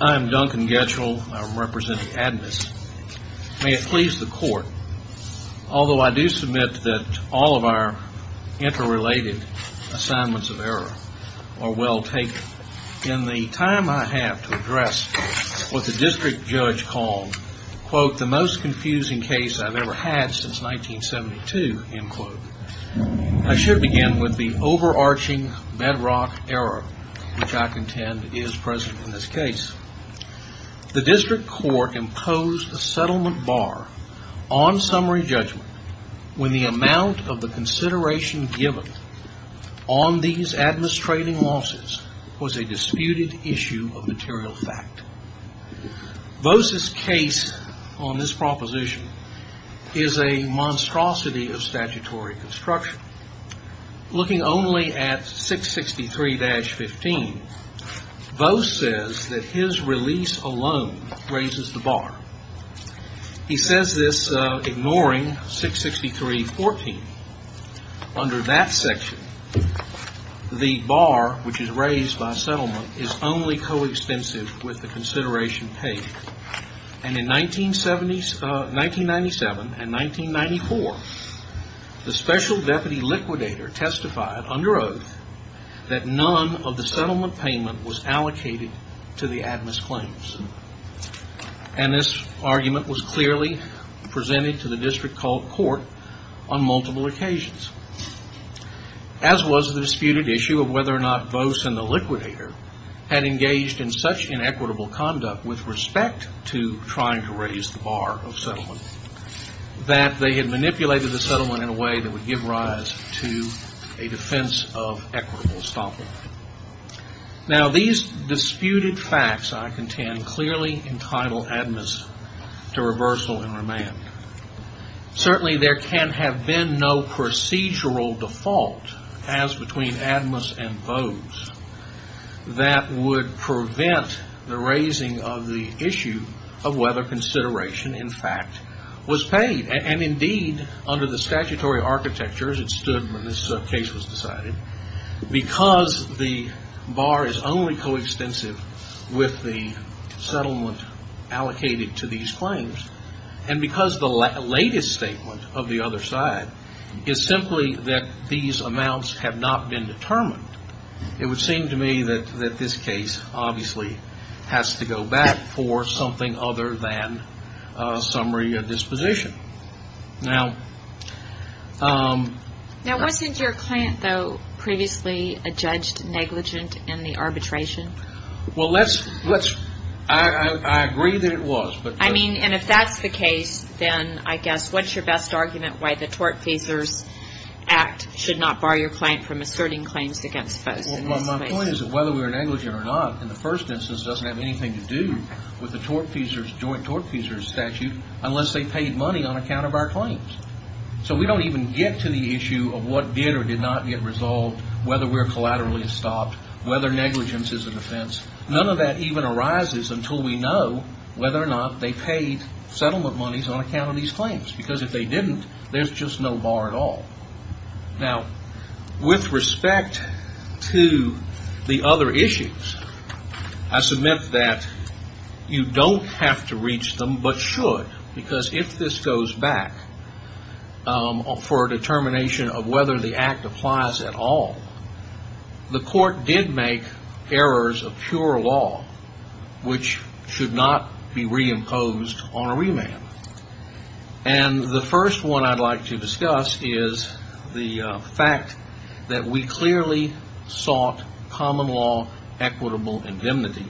I'm Duncan Getchell. I'm representing ADMIS. May it please the court, although I do submit that all of our interrelated assignments of error are well taken, in the time I have to address what the district judge called, quote, the most confusing case I've ever had since 1972, end quote, I should begin with the overarching bedrock error, which I contend is present in this case. The district court imposed a settlement bar on summary judgment when the amount of the consideration given on these ADMIS trading losses was a disputed issue of material fact. Voss's case on this proposition is a monstrosity of statutory construction. Looking only at 663-15, Voss says that his release alone raises the bar. He says this ignoring 663-14. Under that section, the bar, which is raised by settlement, is only co-extensive with the consideration paid. And in 1997 and 1994, the special deputy liquidator testified under oath that none of the settlement payment was allocated to the ADMIS claims. And this argument was clearly presented to the district court on multiple occasions. As was the disputed issue of whether or not Voss and the liquidator had engaged in such inequitable conduct with respect to trying to raise the bar of settlement, that they had manipulated the settlement in a way that would give rise to a defense of equitable estoppel. Now, these disputed facts, I contend, clearly entitle ADMIS to reversal and remand. Certainly, there can have been no procedural default as between ADMIS and Voss that would prevent the raising of the issue of whether consideration, in fact, was paid. And indeed, under the statutory architecture, as it stood when this case was decided, because the bar is only co-extensive with the settlement allocated to these claims, and because the latest statement of the other side is simply that these amounts have not been determined, it would seem to me that this case obviously has to go back for something other than summary disposition. Now, wasn't your client, though, previously a judged negligent in the arbitration? Well, I agree that it was. I mean, and if that's the case, then I guess what's your best argument why the Tort Feasers Act should not bar your client from asserting claims against Voss? Well, my point is that whether we're negligent or not, in the first instance, doesn't have anything to do with the Joint Tort Feasers Statute unless they paid money on account of our claims. So we don't even get to the issue of what did or did not get resolved, whether we're collaterally estopped, whether negligence is a defense. None of that even arises until we know whether or not they paid settlement monies on account of these claims, because if they didn't, there's just no bar at all. Now, with respect to the other issues, I submit that you don't have to reach them, but should, because if this goes back for a determination of whether the act applies at all, the court did make errors of pure law which should not be reimposed on a remand. And the first one I'd like to discuss is the fact that we clearly sought common law equitable indemnity,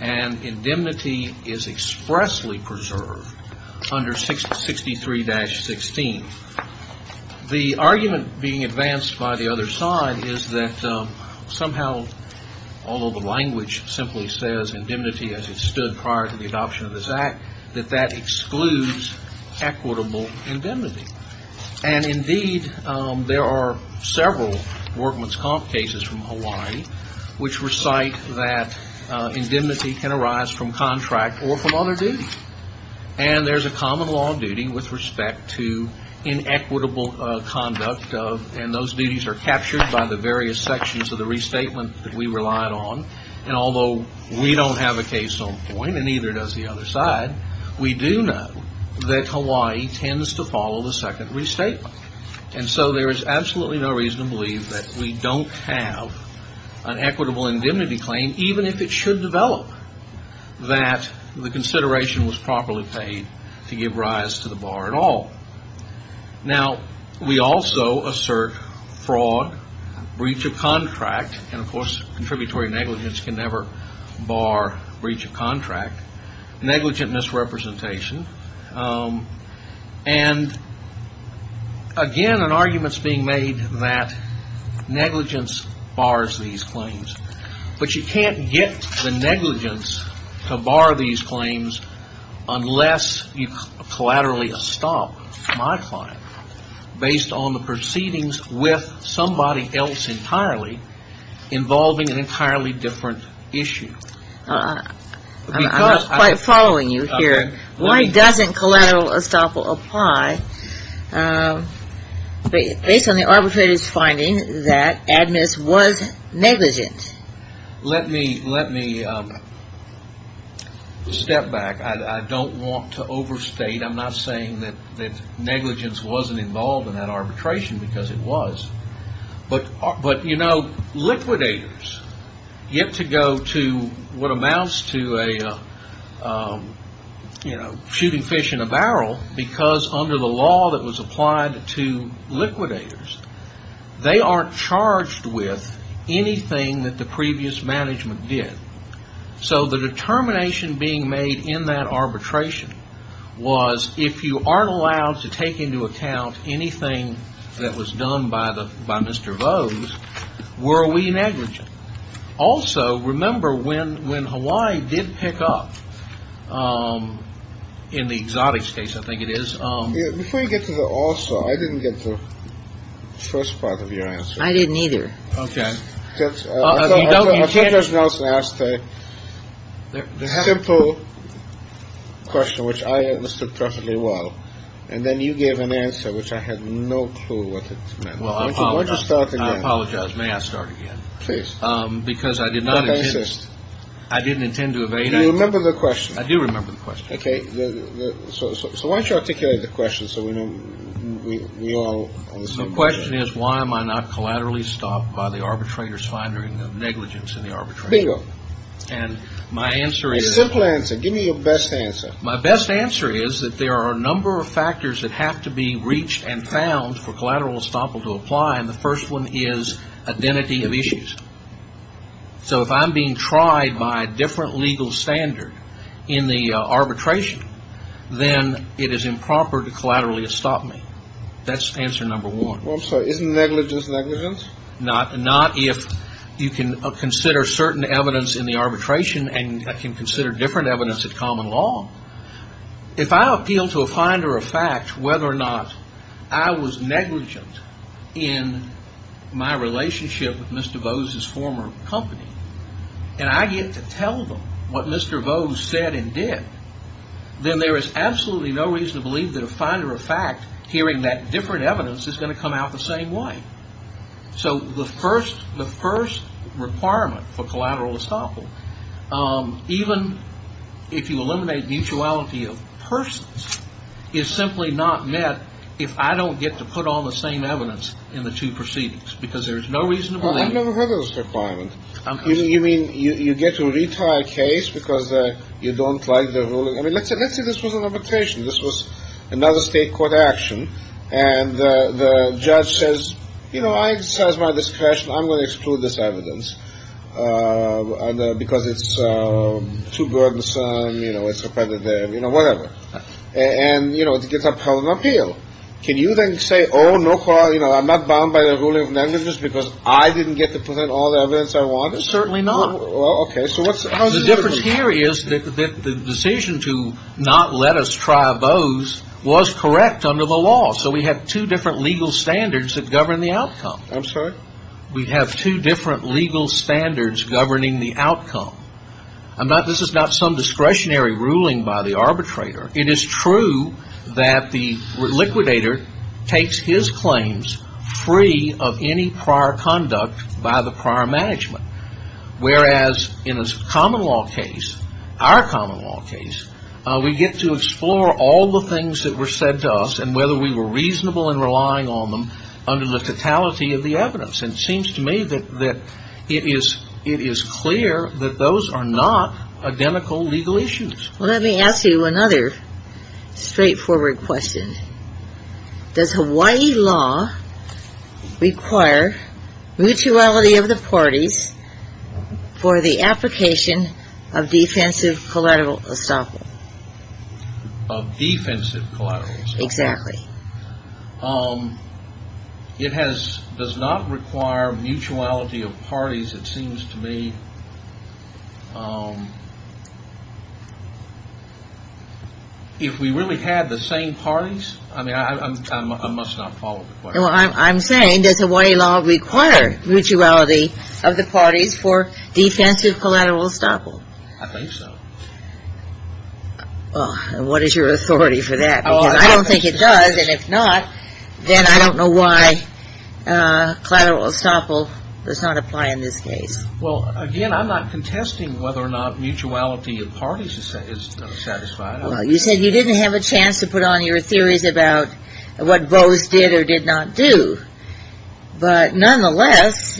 and indemnity is expressly preserved under 63-16. The argument being advanced by the other side is that somehow, although the language simply says indemnity as it stood prior to the adoption of this act, that that excludes equitable indemnity. And indeed, there are several workman's comp cases from Hawaii which recite that indemnity can arise from contract or from other duty. And there's a common law duty with respect to inequitable conduct, and those duties are captured by the various sections of the restatement that we relied on. And although we don't have a case on point, and neither does the other side, we do know that Hawaii tends to follow the second restatement. And so there is absolutely no reason to believe that we don't have an equitable indemnity claim, even if it should develop, that the consideration was properly paid to give rise to the bar at all. Now, we also assert fraud, breach of contract, and of course, contributory negligence can never bar breach of contract, negligent misrepresentation. And again, an argument's being made that negligence bars these claims. But you can't get the negligence to bar these claims unless you collaterally stop modifying based on the proceedings with somebody else entirely involving an entirely different issue. I'm following you here. Why doesn't collateral estoppel apply based on the arbitrator's finding that admiss was negligent? Let me step back. I don't want to overstate. I'm not saying that negligence wasn't involved in that arbitration because it was. But, you know, liquidators get to go to what amounts to shooting fish in a barrel because under the law that was applied to liquidators, they aren't charged with anything that the previous management did. So the determination being made in that arbitration was if you aren't allowed to take into account anything that was done by the by Mr. Vose, were we negligent? Also, remember when when Hawaii did pick up in the exotic states, I think it is. Before you get to the also, I didn't get the first part of your answer. I didn't either. OK. I think there's Nelson asked a simple question which I understood perfectly well. And then you gave an answer which I had no clue what it meant. Well, I apologize. I apologize. May I start again? Please. Because I did not exist. I didn't intend to evade. I remember the question. I do remember the question. OK. So why don't you articulate the question so we know we all. So the question is, why am I not collaterally stopped by the arbitrator's finding of negligence in the arbitration? And my answer is. Simple answer. Give me your best answer. My best answer is that there are a number of factors that have to be reached and found for collateral estoppel to apply. And the first one is identity of issues. So if I'm being tried by a different legal standard in the arbitration, then it is improper to collaterally stop me. That's answer number one. Well, I'm sorry. Isn't negligence negligence? Not if you can consider certain evidence in the arbitration and can consider different evidence at common law. If I appeal to a finder of fact whether or not I was negligent in my relationship with Mr. Bose's former company and I get to tell them what Mr. Bose said and did, then there is absolutely no reason to believe that a finder of fact hearing that different evidence is going to come out the same way. So the first the first requirement for collateral estoppel, even if you eliminate mutuality of persons, is simply not met if I don't get to put on the same evidence in the two proceedings because there is no reason to believe. I've never heard of this requirement. You mean you get to retire a case because you don't like the ruling? I mean, let's say this was an arbitration. This was another state court action. And the judge says, you know, I excise my discretion. I'm going to exclude this evidence because it's too burdensome. You know, it's repetitive, you know, whatever. And, you know, it's a problem appeal. Can you then say, oh, no, you know, I'm not bound by the ruling of negligence because I didn't get to put in all the evidence I wanted? Certainly not. OK, so what's the difference here is that the decision to not let us try Bose was correct under the law. So we have two different legal standards that govern the outcome. I'm sorry. We have two different legal standards governing the outcome. I'm not this is not some discretionary ruling by the arbitrator. It is true that the liquidator takes his claims free of any prior conduct by the prior management, whereas in a common law case, our common law case, we get to explore all the things that were said to us and whether we were reasonable in relying on them under the totality of the evidence. And it seems to me that it is clear that those are not identical legal issues. Well, let me ask you another straightforward question. Does Hawaii law require mutuality of the parties for the application of defensive collateral estoppel? Of defensive collateral estoppel? Exactly. It has does not require mutuality of parties, it seems to me. If we really had the same parties, I mean, I must not follow the question. I'm saying does Hawaii law require mutuality of the parties for defensive collateral estoppel? I think so. What is your authority for that? I don't think it does. And if not, then I don't know why collateral estoppel does not apply in this case. Well, again, I'm not contesting whether or not mutuality of parties is satisfied. You said you didn't have a chance to put on your theories about what Bose did or did not do. But nonetheless,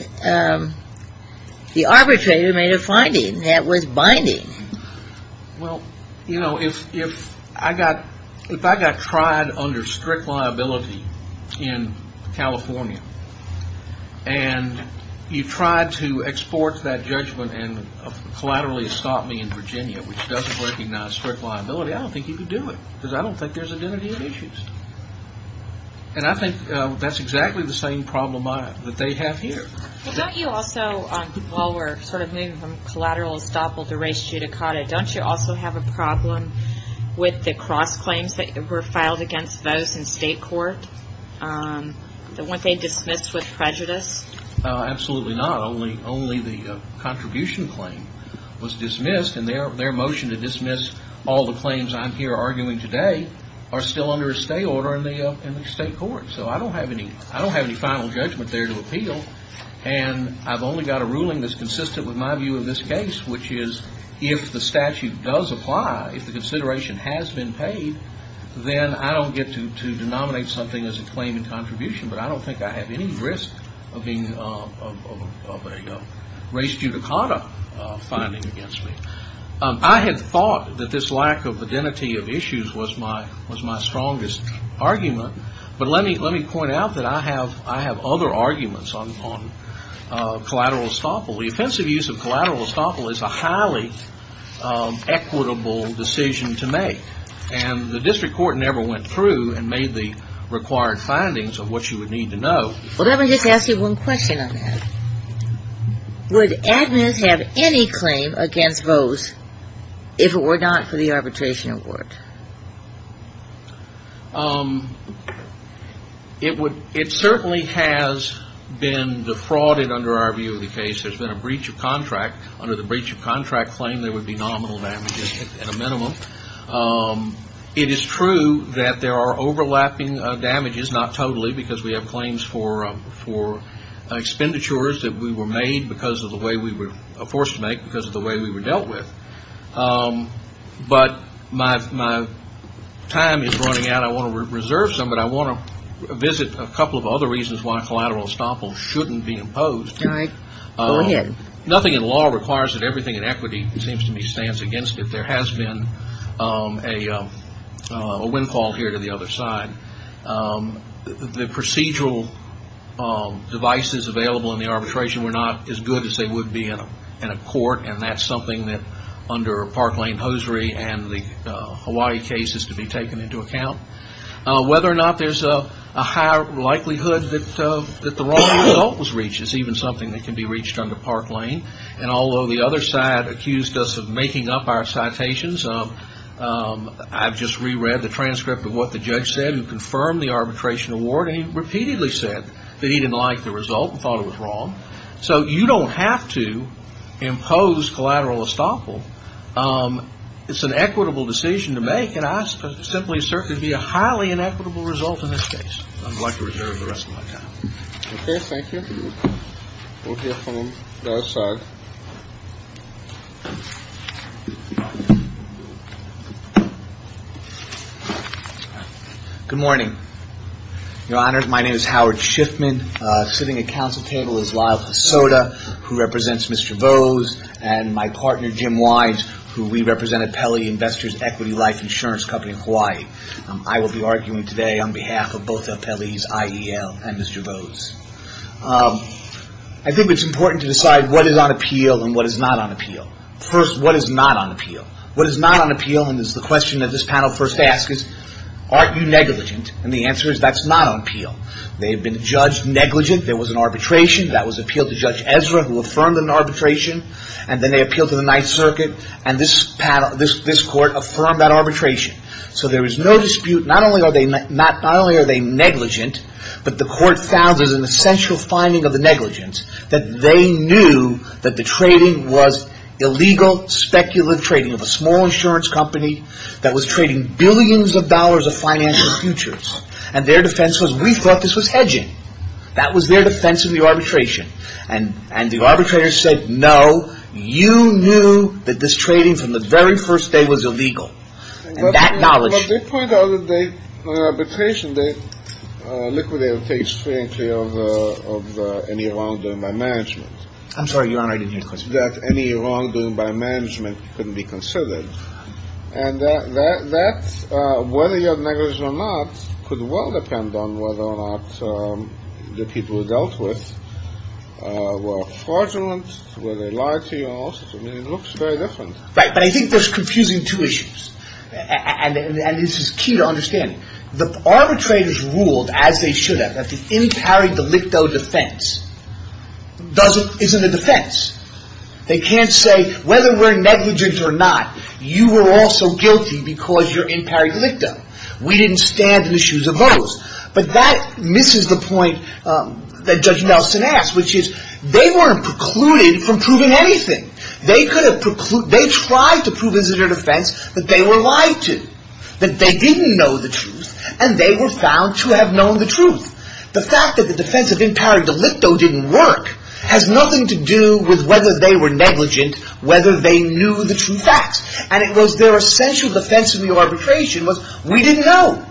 the arbitrator made a finding that was binding. Well, you know, if I got tried under strict liability in California, and you tried to export that judgment and collaterally estop me in Virginia, which doesn't recognize strict liability, I don't think you could do it. Because I don't think there's identity issues. And I think that's exactly the same problem that they have here. Well, don't you also, while we're sort of moving from collateral estoppel to res judicata, don't you also have a problem with the cross claims that were filed against Bose in state court, the one they dismissed with prejudice? Absolutely not. Only the contribution claim was dismissed, and their motion to dismiss all the claims I'm here arguing today are still under a stay order in the state court. So I don't have any final judgment there to appeal. And I've only got a ruling that's consistent with my view of this case, which is if the statute does apply, if the consideration has been paid, then I don't get to denominate something as a claim in contribution. But I don't think I have any risk of a res judicata finding against me. I had thought that this lack of identity of issues was my strongest argument. But let me point out that I have other arguments on collateral estoppel. The offensive use of collateral estoppel is a highly equitable decision to make. And the district court never went through and made the required findings of what you would need to know. Well, let me just ask you one question on that. Would Agnes have any claim against Vose if it were not for the arbitration award? It certainly has been defrauded under our view of the case. There's been a breach of contract. Under the breach of contract claim, there would be nominal damages at a minimum. It is true that there are overlapping damages, but it is not totally because we have claims for expenditures that we were made because of the way we were forced to make, because of the way we were dealt with. But my time is running out. I want to reserve some, but I want to visit a couple of other reasons why collateral estoppel shouldn't be imposed. All right. Go ahead. Nothing in law requires that everything in equity, it seems to me, stands against it. There has been a windfall here to the other side. The procedural devices available in the arbitration were not as good as they would be in a court, and that's something that under Park Lane Hosiery and the Hawaii case is to be taken into account. Whether or not there's a high likelihood that the wrong result was reached is even something that can be reached under Park Lane. And although the other side accused us of making up our citations, I've just reread the transcript of what the judge said. He confirmed the arbitration award, and he repeatedly said that he didn't like the result and thought it was wrong. So you don't have to impose collateral estoppel. It's an equitable decision to make, and I simply assert it would be a highly inequitable result in this case. I'd like to reserve the rest of my time. Okay. Thank you. We'll hear from the other side. Good morning, Your Honor. My name is Howard Schiffman. Sitting at council table is Lyle Pasota, who represents Mr. Vose, and my partner, Jim Wise, who we represent at Pelley Investors Equity Life Insurance Company in Hawaii. I will be arguing today on behalf of both of Pelley's IEL and Mr. Vose. I think it's important to decide what is on appeal and what is not on appeal. First, what is not on appeal? What is not on appeal, and it's the question that this panel first asks, is aren't you negligent? And the answer is that's not on appeal. They have been judged negligent. There was an arbitration. That was appealed to Judge Ezra, who affirmed an arbitration. And then they appealed to the Ninth Circuit, and this panel, this court affirmed that arbitration. So there is no dispute. Not only are they negligent, but the court found there's an essential finding of the negligence, that they knew that the trading was illegal speculative trading of a small insurance company that was trading billions of dollars of financial futures. And their defense was, we thought this was hedging. That was their defense of the arbitration. And the arbitrator said, no, you knew that this trading from the very first day was illegal. And that knowledge. But they pointed out that the arbitration, they liquidated page three and three of any wrongdoing by management. I'm sorry, Your Honor. I didn't hear the question. That any wrongdoing by management couldn't be considered. And that, whether you're negligent or not, could well depend on whether or not the people who dealt with were fraudulent, whether they lied to you and all sorts of things. It looks very different. Right. But I think there's confusing two issues. And this is key to understanding. The arbitrators ruled, as they should have, that the in pari delicto defense isn't a defense. They can't say, whether we're negligent or not, you were also guilty because you're in pari delicto. We didn't stand in the shoes of those. But that misses the point that Judge Nelson asked, which is, they weren't precluded from proving anything. They tried to prove as their defense that they were lied to, that they didn't know the truth, and they were found to have known the truth. The fact that the defense of in pari delicto didn't work has nothing to do with whether they were negligent, whether they knew the true facts. And it was their essential defense in the arbitration was, we didn't know.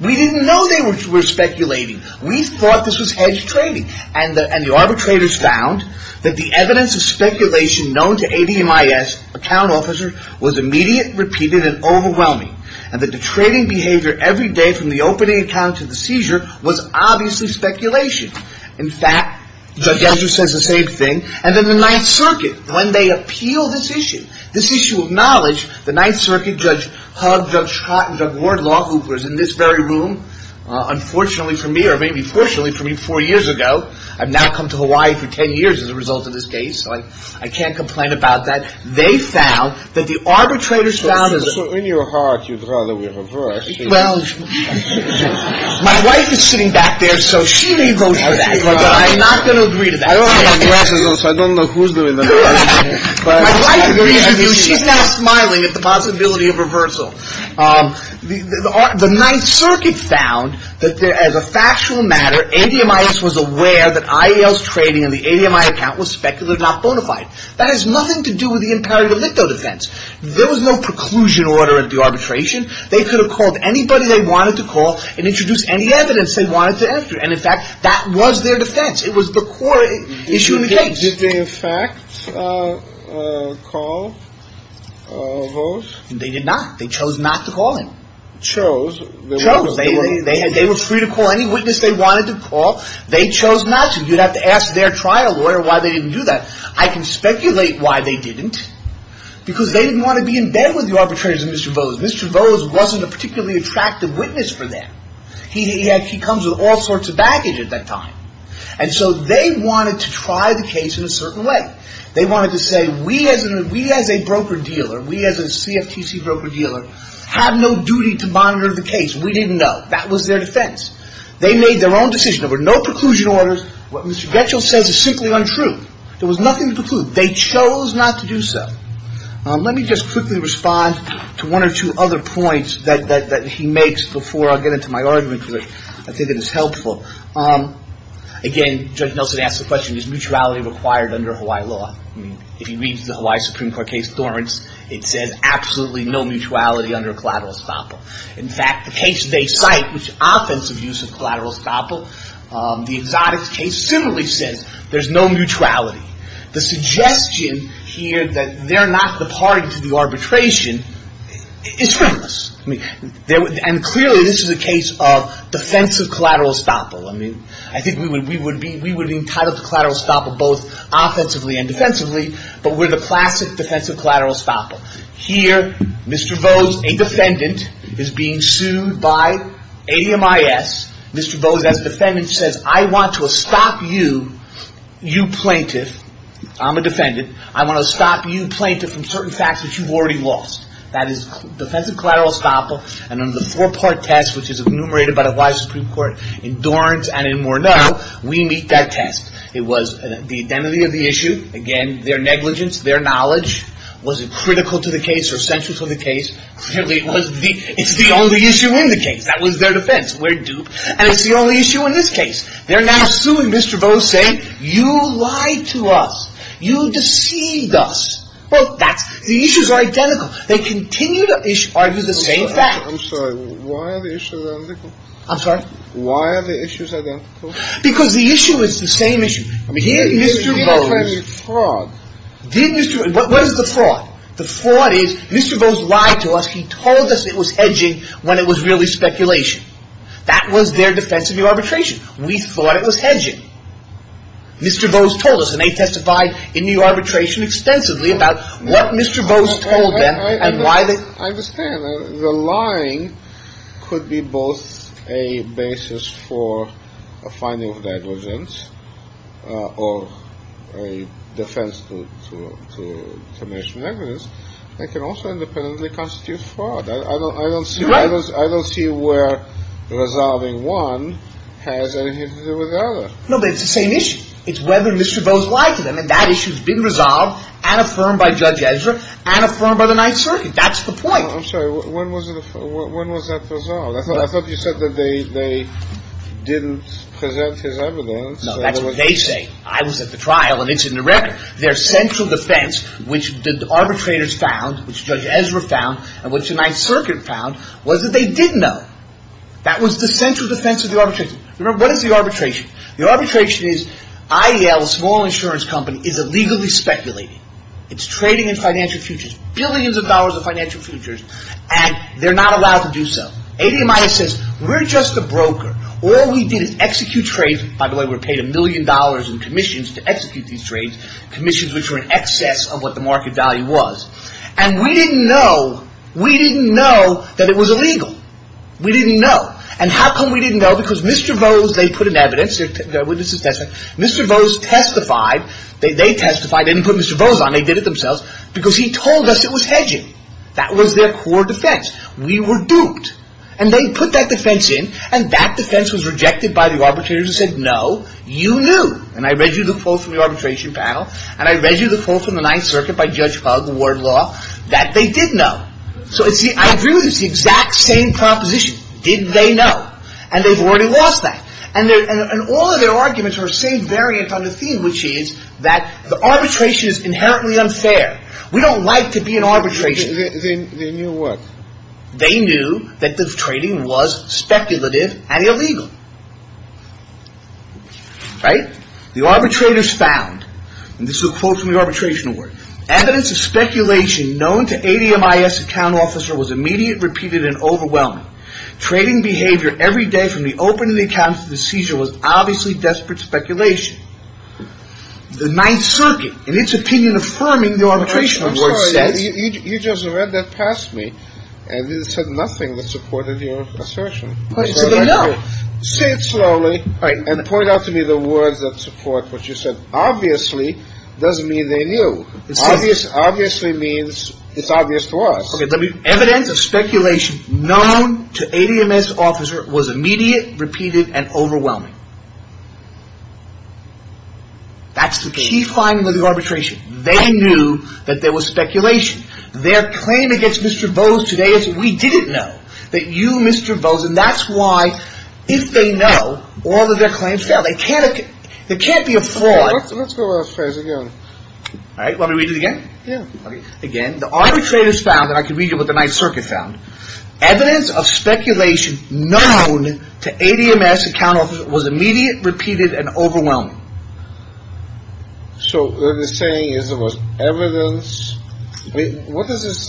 We didn't know they were speculating. We thought this was hedge trading. And the arbitrators found that the evidence of speculation known to ADMIS, account officer, was immediate, repeated, and overwhelming. And that the trading behavior every day from the opening account to the seizure was obviously speculation. In fact, Judge Andrews says the same thing. And then the Ninth Circuit, when they appeal this issue, this issue of knowledge, the Ninth Circuit, Judge Hugg, Judge Scott, and Judge Wardlaw, who was in this very room, unfortunately for me, or maybe fortunately for me, four years ago. I've now come to Hawaii for ten years as a result of this case. I can't complain about that. They found that the arbitrators found that. So in your heart, you'd rather we reverse. Well, my wife is sitting back there, so she may vote for that. But I'm not going to agree to that. I don't know who's doing that. My wife agrees with you. She's now smiling at the possibility of reversal. The Ninth Circuit found that as a factual matter, ADMIS was aware that IAL's trading in the ADMI account was speculated, not bona fide. That has nothing to do with the imperative ellipto defense. There was no preclusion order at the arbitration. They could have called anybody they wanted to call and introduced any evidence they wanted to enter. And in fact, that was their defense. It was the core issue in the case. Did they in fact call or vote? They did not. They chose not to call him. Chose? Chose. They were free to call any witness they wanted to call. They chose not to. You'd have to ask their trial lawyer why they didn't do that. I can speculate why they didn't. Because they didn't want to be in bed with the arbitrators and Mr. Vose. Mr. Vose wasn't a particularly attractive witness for them. He comes with all sorts of baggage at that time. And so they wanted to try the case in a certain way. They wanted to say we as a broker dealer, we as a CFTC broker dealer, have no duty to monitor the case. We didn't know. That was their defense. They made their own decision. There were no preclusion orders. What Mr. Getchell says is simply untrue. There was nothing to preclude. They chose not to do so. Let me just quickly respond to one or two other points that he makes before I get into my argument. I think it is helpful. Again, Judge Nelson asks the question, is mutuality required under Hawaii law? If you read the Hawaii Supreme Court case, Torrance, it says absolutely no mutuality under collateral estoppel. In fact, the case they cite, which is offensive use of collateral estoppel, the exotics case similarly says there's no mutuality. The suggestion here that they're not departing to the arbitration is pointless. Clearly, this is a case of defensive collateral estoppel. I think we would be entitled to collateral estoppel both offensively and defensively, but we're the classic defensive collateral estoppel. Here, Mr. Vose, a defendant, is being sued by ADMIS. Mr. Vose, as a defendant, says I want to stop you, you plaintiff, I'm a defendant. I want to stop you, plaintiff, from certain facts that you've already lost. That is defensive collateral estoppel. And under the four-part test, which is enumerated by the Hawaii Supreme Court in Torrance and in Morneau, we meet that test. It was the identity of the issue, again, their negligence, their knowledge. Was it critical to the case or central to the case? Clearly, it's the only issue in the case. That was their defense. We're duped. And it's the only issue in this case. They're now suing Mr. Vose, saying you lied to us. You deceived us. The issues are identical. They continue to argue the same facts. I'm sorry. Why are the issues identical? I'm sorry? Why are the issues identical? Because the issue is the same issue. I mean, here, Mr. Vose… He didn't play the fraud. What is the fraud? The fraud is Mr. Vose lied to us. He told us it was hedging when it was really speculation. That was their defense of the arbitration. We thought it was hedging. Mr. Vose told us, and they testified in the arbitration extensively about what Mr. Vose told them and why they… I understand. The lying could be both a basis for a finding of negligence or a defense to commission negligence. It can also independently constitute fraud. You're right. I don't see where resolving one has anything to do with the other. No, but it's the same issue. It's whether Mr. Vose lied to them, and that issue has been resolved and affirmed by Judge Ezra and affirmed by the Ninth Circuit. That's the point. I'm sorry. When was that resolved? I thought you said that they didn't present his evidence. No, that's what they say. I was at the trial, and it's in the record. Their central defense, which the arbitrators found, which Judge Ezra found, and which the Ninth Circuit found, was that they did know. That was the central defense of the arbitration. Remember, what is the arbitration? The arbitration is IEL, a small insurance company, is illegally speculating. It's trading in financial futures, billions of dollars in financial futures, and they're not allowed to do so. ADMIS says, we're just a broker. All we did is execute trades. By the way, we were paid a million dollars in commissions to execute these trades, commissions which were in excess of what the market value was. And we didn't know. We didn't know that it was illegal. We didn't know. And how come we didn't know? Because Mr. Vose, they put in evidence. Their witness is testified. Mr. Vose testified. They testified. They didn't put Mr. Vose on. They did it themselves because he told us it was hedging. That was their core defense. We were duped. And they put that defense in, and that defense was rejected by the arbitrators and said, no, you knew. And I read you the quote from the arbitration panel, and I read you the quote from the Ninth Circuit by Judge Hugg, the ward law, that they did know. So, see, I agree with you. It's the exact same proposition. Did they know? And they've already lost that. And all of their arguments are the same variant on the theme, which is that the arbitration is inherently unfair. We don't like to be in arbitration. They knew what? They knew that the trading was speculative and illegal. Right? The arbitrators found, and this is a quote from the arbitration award, evidence of speculation known to ADMIS account officer was immediate, repeated, and overwhelming. Trading behavior every day from the opening of the account to the seizure was obviously desperate speculation. The Ninth Circuit, in its opinion, affirming the arbitration award, says. I'm sorry. You just read that past me, and it said nothing that supported your assertion. But it said they knew. Say it slowly. All right. And point out to me the words that support what you said. Obviously doesn't mean they knew. Obviously means it's obvious to us. Evidence of speculation known to ADMIS officer was immediate, repeated, and overwhelming. That's the key finding of the arbitration. They knew that there was speculation. Their claim against Mr. Bose today is we didn't know that you, Mr. Bose, and that's why if they know, all of their claims fail. They can't be a fraud. Let's go to that phrase again. All right. Want me to read it again? Yeah. Again. The arbitrators found, and I can read you what the Ninth Circuit found, evidence of speculation known to ADMIS account officer was immediate, repeated, and overwhelming. So what they're saying is there was evidence. What does this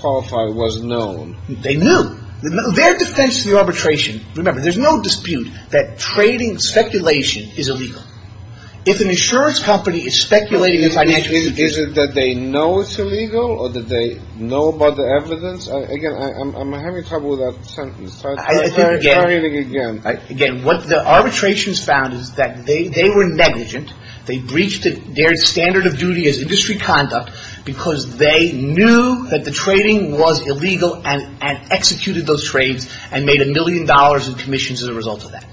qualify as was known? They knew. Their defense to the arbitration. Remember, there's no dispute that trading speculation is illegal. If an insurance company is speculating a financial institution. Is it that they know it's illegal or that they know about the evidence? Again, am I having trouble with that sentence? Try reading it again. Again, what the arbitrations found is that they were negligent. They breached their standard of duty as industry conduct because they knew that the trading was illegal and executed those trades and made a million dollars in commissions as a result of that.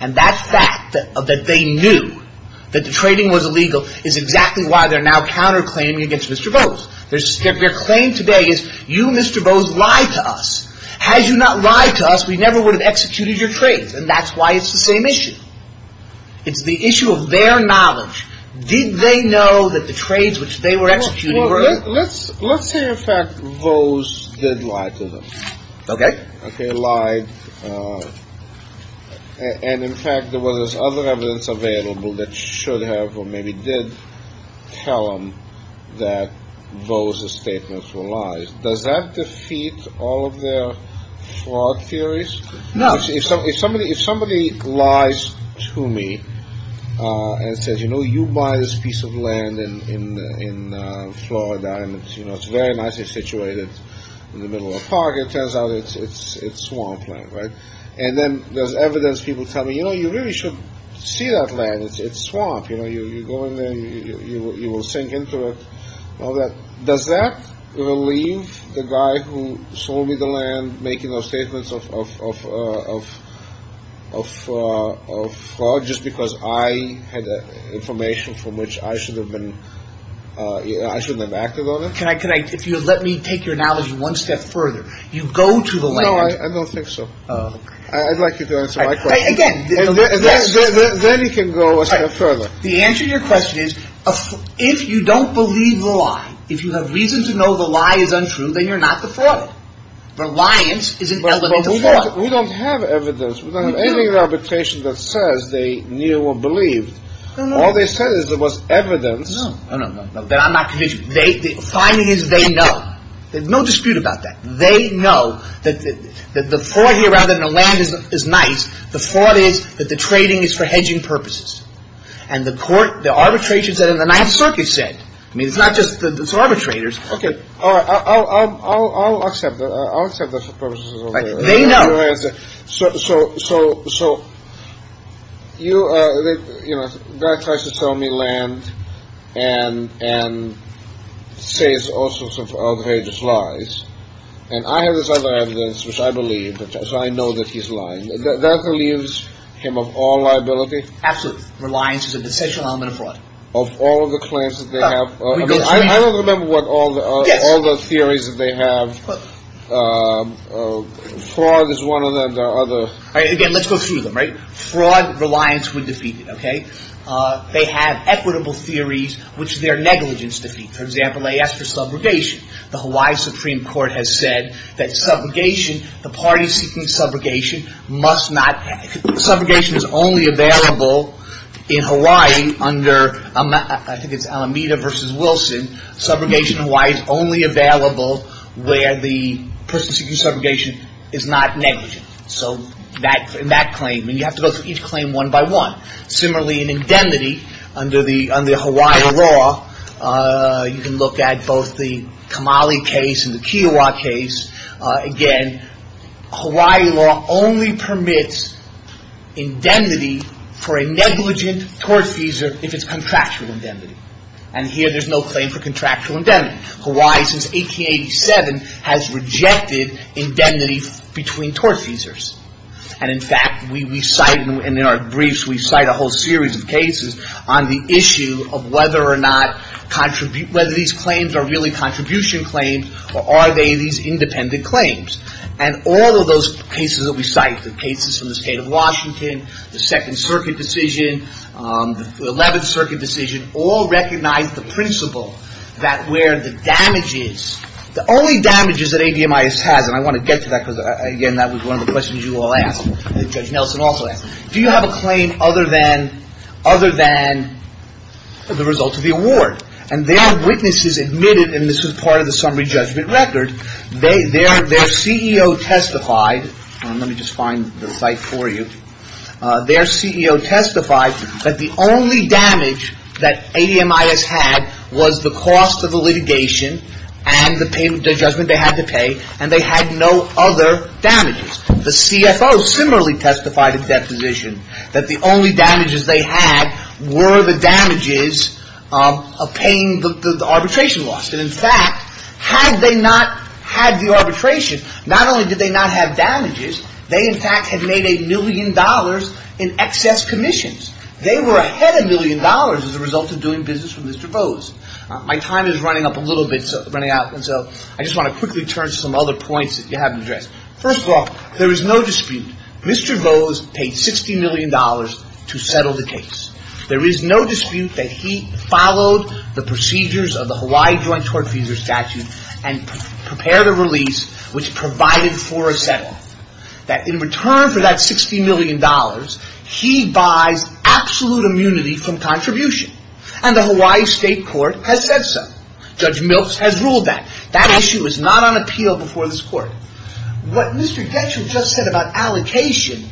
And that fact that they knew that the trading was illegal is exactly why they're now counterclaiming against Mr. Bose. Their claim today is you, Mr. Bose, lied to us. Had you not lied to us, we never would have executed your trades. And that's why it's the same issue. It's the issue of their knowledge. Did they know that the trades which they were executing were illegal? Let's say, in fact, Bose did lie to them. Okay. Okay, lied. And, in fact, there was other evidence available that should have or maybe did tell them that Bose's statements were lies. Does that defeat all of their fraud theories? No. If somebody lies to me and says, you know, you buy this piece of land in Florida and it's very nicely situated in the middle of a park, it turns out it's swamp land, right? And then there's evidence people tell me, you know, you really should see that land. It's swamp. You know, you go in there and you will sink into it. Does that relieve the guy who sold me the land making those statements of fraud just because I had information from which I shouldn't have acted on it? If you would let me take your analogy one step further. You go to the land. No, I don't think so. I'd like you to answer my question. Then you can go a step further. The answer to your question is if you don't believe the lie, if you have reason to know the lie is untrue, then you're not the fraud. Reliance is an element of fraud. We don't have evidence. We don't have anything in arbitration that says they knew or believed. All they said is there was evidence. No, no, no. I'm not convinced. The finding is they know. There's no dispute about that. They know that the fraud here rather than the land is nice, the fraud is that the trading is for hedging purposes. And the court, the arbitration said in the Ninth Circuit said. I mean, it's not just the arbitrators. Okay. I'll accept that. I'll accept that. They know. So, so, so, so, you know, the guy tries to sell me land and says all sorts of outrageous lies. And I have this other evidence, which I believe. So I know that he's lying. That relieves him of all liability? Absolutely. Reliance is an essential element of fraud. Of all of the claims that they have. I don't remember what all the theories that they have. Fraud is one of them. There are other. Again, let's go through them. Right. Fraud, reliance would defeat it. Okay. They have equitable theories, which their negligence defeats. For example, they ask for subrogation. The Hawaii Supreme Court has said that subrogation, the party seeking subrogation must not. Subrogation is only available in Hawaii under, I think it's Alameda versus Wilson. Subrogation in Hawaii is only available where the person seeking subrogation is not negligent. So in that claim, and you have to go through each claim one by one. Similarly, in indemnity, under the Hawaii law, you can look at both the Kamali case and the Kiowa case. Again, Hawaii law only permits indemnity for a negligent tortfeasor if it's contractual indemnity. And here there's no claim for contractual indemnity. Hawaii, since 1887, has rejected indemnity between tortfeasors. And in fact, we cite, and in our briefs we cite a whole series of cases on the issue of whether or not, And all of those cases that we cite, the cases from the State of Washington, the Second Circuit decision, the Eleventh Circuit decision, all recognize the principle that where the damages, the only damages that ADMIS has, and I want to get to that because, again, that was one of the questions you all asked, and Judge Nelson also asked, do you have a claim other than the result of the award? And their witnesses admitted, and this was part of the summary judgment record, their CEO testified, and let me just find the site for you, their CEO testified that the only damage that ADMIS had was the cost of the litigation and the payment, the judgment they had to pay, and they had no other damages. The CFO similarly testified at that position that the only damages they had were the damages of paying the arbitration loss. And in fact, had they not had the arbitration, not only did they not have damages, they in fact had made a million dollars in excess commissions. They were ahead a million dollars as a result of doing business with Mr. Bose. My time is running up a little bit, running out, and so I just want to quickly turn to some other points that you haven't addressed. First of all, there is no dispute, Mr. Bose paid $60 million to settle the case. There is no dispute that he followed the procedures of the Hawaii Joint Court Feasor Statute and prepared a release which provided for a settle, that in return for that $60 million, he buys absolute immunity from contribution, and the Hawaii State Court has said so. Judge Milks has ruled that. That issue is not on appeal before this court. What Mr. Getschel just said about allocation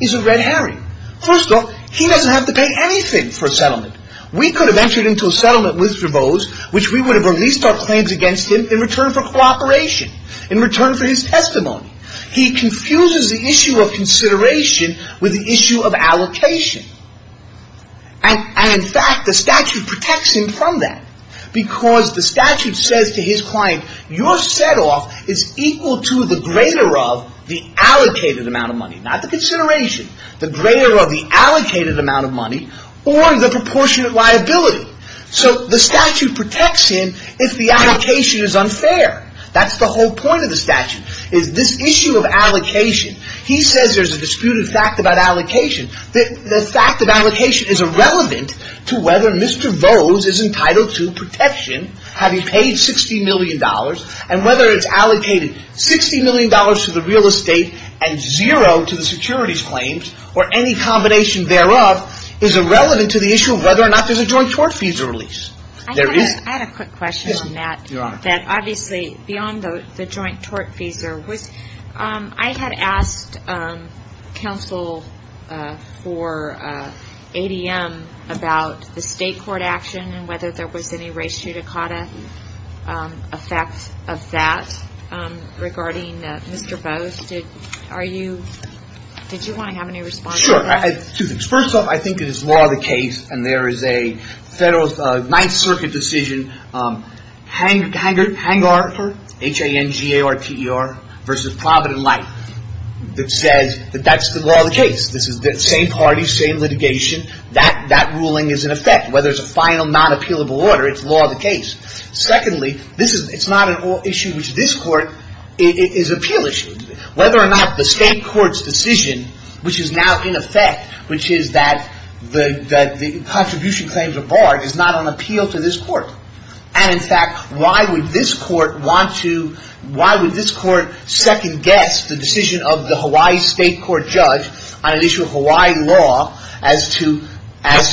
is a red herring. First of all, he doesn't have to pay anything for a settlement. We could have entered into a settlement with Mr. Bose, which we would have released our claims against him in return for cooperation, in return for his testimony. He confuses the issue of consideration with the issue of allocation. And in fact, the statute protects him from that, because the statute says to his client, your set-off is equal to the greater of the allocated amount of money, not the consideration, the greater of the allocated amount of money, or the proportionate liability. So the statute protects him if the allocation is unfair. That's the whole point of the statute, is this issue of allocation. He says there's a disputed fact about allocation. The fact of allocation is irrelevant to whether Mr. Bose is entitled to protection, having paid $60 million, and whether it's allocated $60 million to the real estate and zero to the securities claims, or any combination thereof, is irrelevant to the issue of whether or not there's a joint tort fees release. There is. I had a quick question on that. Yes, Your Honor. Obviously, beyond the joint tort fees, I had asked counsel for ADM about the state court action and whether there was any ratio to CATA effect of that regarding Mr. Bose. Did you want to have any response to that? Sure. Two things. First off, I think it is law of the case, and there is a 9th Circuit decision Hangar, H-A-N-G-A-R-T-E-R, versus Provident Light, that says that that's the law of the case. This is the same party, same litigation. That ruling is in effect. Whether it's a final, non-appealable order, it's law of the case. Secondly, it's not an issue which this Court is appeal issue. Whether or not the state court's decision, which is now in effect, which is that the contribution claims are barred, is not on appeal to this Court. And, in fact, why would this Court second-guess the decision of the Hawaii state court judge on an issue of Hawaii law as to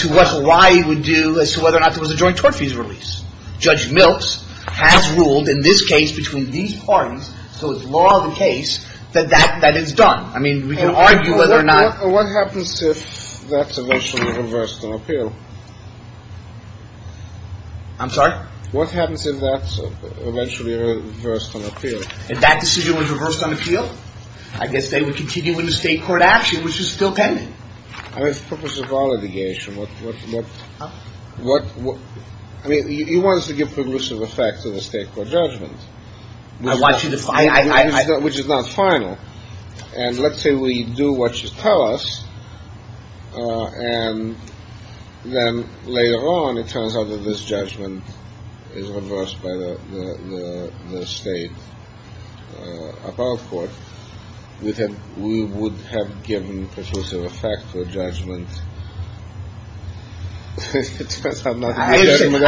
what Hawaii would do as to whether or not there was a joint tort fees release. Judge Milks has ruled in this case between these parties, so it's law of the case, that that is done. I mean, we can argue whether or not What happens if that's eventually reversed on appeal? I'm sorry? What happens if that's eventually reversed on appeal? If that decision was reversed on appeal, I guess they would continue with the state court action, which is still pending. I mean, it's purpose of all litigation. I mean, he wants to give permissive effect to the state court judgment. Which is not final. And let's say we do what you tell us, and then later on it turns out that this judgment is reversed by the state appellate court, we would have given purposive effect to a judgment that turns out not to be a judgment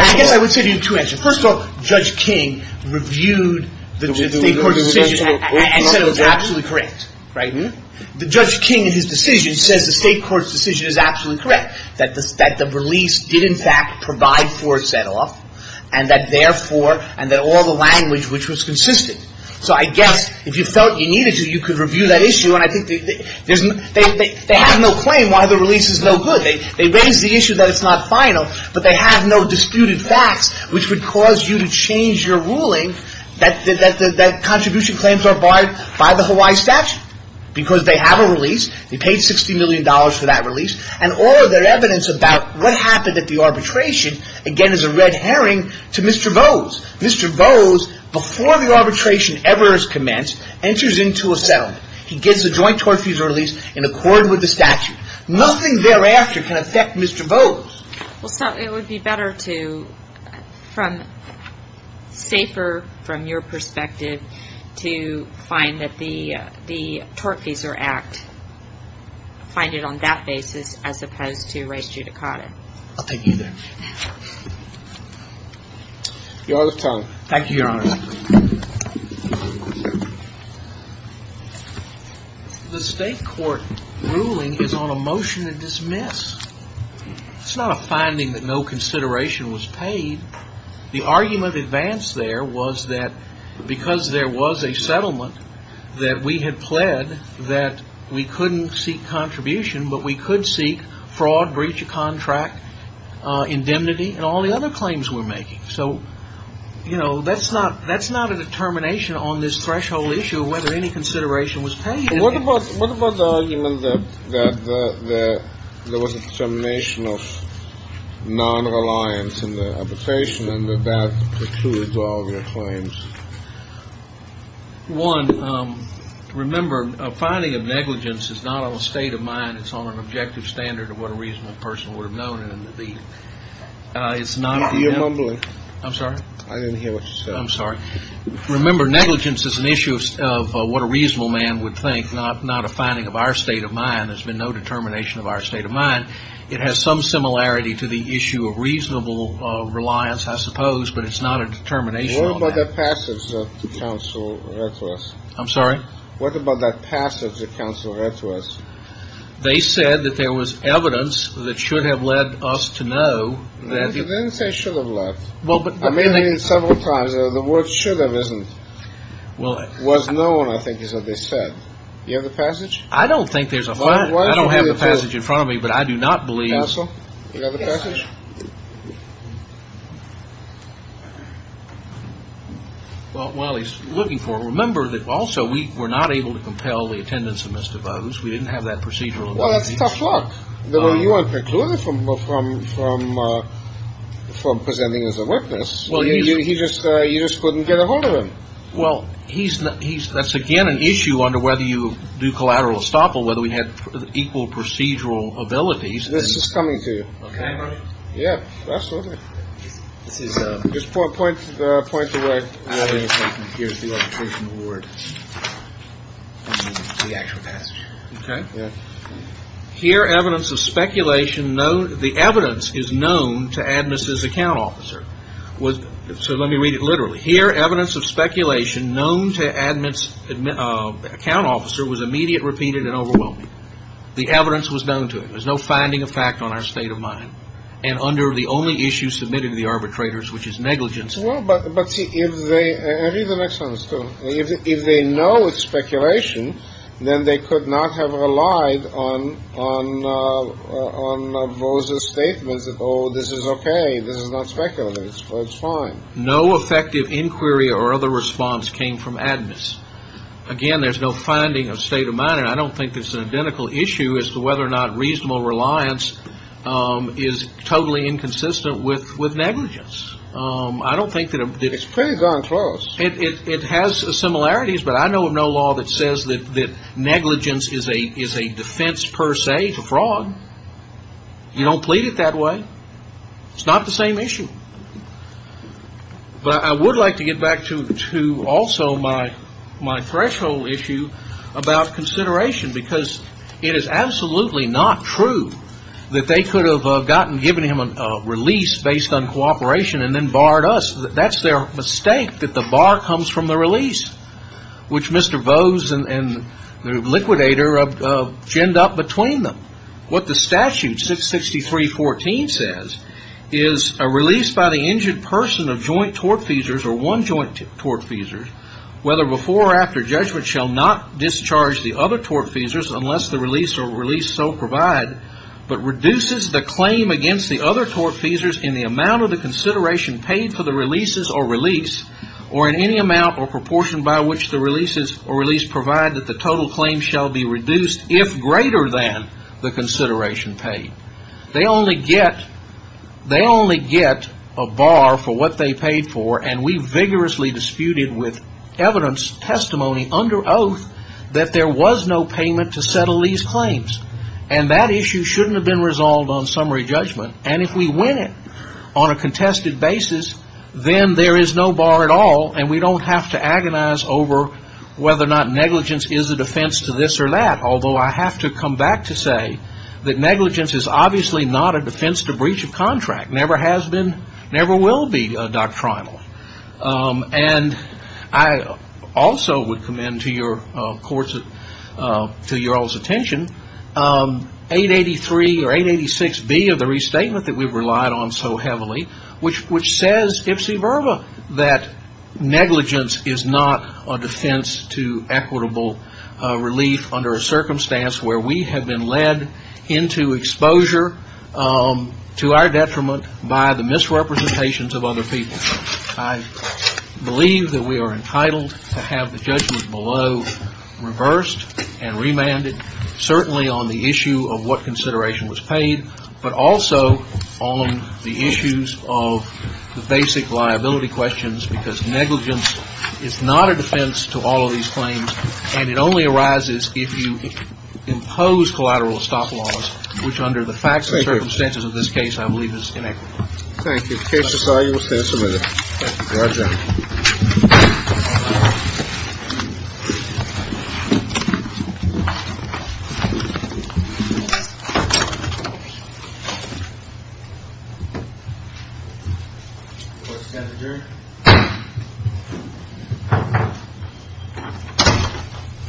at all. First of all, Judge King reviewed the state court decision and said it was absolutely correct. The Judge King in his decision says the state court's decision is absolutely correct. That the release did in fact provide for a set off, and that therefore, and that all the language which was consistent. So I guess if you felt you needed to, you could review that issue. And I think they have no claim why the release is no good. They raise the issue that it's not final, but they have no disputed facts which would cause you to change your ruling. That contribution claims are barred by the Hawaii statute. Because they have a release. They paid 60 million dollars for that release. And all of their evidence about what happened at the arbitration, again is a red herring to Mr. Vose. Mr. Vose, before the arbitration ever is commenced, enters into a settlement. He gets a joint torture release in accord with the statute. Nothing thereafter can affect Mr. Vose. Well, sir, it would be better to, from, safer from your perspective, to find that the Tortfeasor Act, find it on that basis as opposed to race judicata. I'll take you there. Your Honor's time. Thank you, Your Honor. The state court ruling is on a motion to dismiss. It's not a finding that no consideration was paid. The argument advanced there was that because there was a settlement that we had pled that we couldn't seek contribution, but we could seek fraud, breach of contract, indemnity, and all the other claims we're making. So, you know, that's not that's not a determination on this threshold issue whether any consideration was paid. What about what about the argument that there was a determination of non-reliance in the application and that the two withdraw their claims? One, remember, a finding of negligence is not on a state of mind. It's on an objective standard of what a reasonable person would have known. It's not. You're mumbling. I'm sorry. I didn't hear what you said. I'm sorry. Remember, negligence is an issue of what a reasonable man would think, not a finding of our state of mind. There's been no determination of our state of mind. It has some similarity to the issue of reasonable reliance, I suppose, but it's not a determination on that. What about that passage that the counsel read to us? I'm sorry? What about that passage that counsel read to us? They said that there was evidence that should have led us to know that he didn't say should have left. Well, but I made it several times. The word should have isn't. Well, it was known, I think, is what they said. You have the passage. I don't think there's a lot. I don't have the passage in front of me, but I do not believe so. You got the passage. Well, he's looking for. Remember that also we were not able to compel the attendance of Mr. Rose. We didn't have that procedural. Well, that's tough luck. You weren't precluded from from from from presenting as a witness. Well, you just you just couldn't get a hold of him. Well, he's he's that's again an issue under whether you do collateral estoppel, whether we had equal procedural abilities. This is coming to you. Yeah, absolutely. This is just four points. The point is that here's the word. The actual passage. OK. Here, evidence of speculation. No, the evidence is known to administers. Account officer was. So let me read it literally here. Evidence of speculation known to admins account officer was immediate, repeated and overwhelming. The evidence was known to him. There's no finding of fact on our state of mind. And under the only issue submitted to the arbitrators, which is negligence. But if they read the next one, if they know it's speculation, then they could not have relied on on on Rose's statements. Oh, this is OK. This is not speculative. It's fine. No effective inquiry or other response came from admins. Again, there's no finding of state of mind. I don't think there's an identical issue as to whether or not reasonable reliance is totally inconsistent with with negligence. I don't think that it's pretty darn close. It has similarities. But I know of no law that says that negligence is a is a defense per se to fraud. You don't plead it that way. It's not the same issue. But I would like to get back to to also my my threshold issue about consideration, because it is absolutely not true that they could have gotten, given him a release based on cooperation and then barred us. That's their mistake, that the bar comes from the release, which Mr. Vose and the liquidator of ginned up between them. What the statute 663 14 says is a release by the injured person of joint tortfeasors or one joint tortfeasors, whether before or after judgment shall not discharge the other tortfeasors unless the release or release so provide, but reduces the claim against the other tortfeasors in the amount of the consideration paid for the releases or release or in any amount or provide that the total claim shall be reduced if greater than the consideration paid. They only get they only get a bar for what they paid for. And we vigorously disputed with evidence testimony under oath that there was no payment to settle these claims. And that issue shouldn't have been resolved on summary judgment. And if we win it on a contested basis, then there is no bar at all. And we don't have to agonize over whether or not negligence is a defense to this or that, although I have to come back to say that negligence is obviously not a defense to breach of contract, never has been, never will be doctrinal. And I also would commend to your courts, to your all's attention, 883 or 886B of the restatement that we've relied on so heavily, which says ipsy verba that negligence is not a defense to equitable relief under a circumstance where we have been led into exposure to our detriment by the misrepresentations of other people. I believe that we are entitled to have the judgment below reversed and remanded, certainly on the issue of what consideration was paid, but also on the issues of the basic liability questions because negligence is not a defense to all of these claims. And it only arises if you impose collateral stop laws, which under the facts and circumstances of this case I believe is inequitable. Thank you. Case disargued. Thank you. Roger.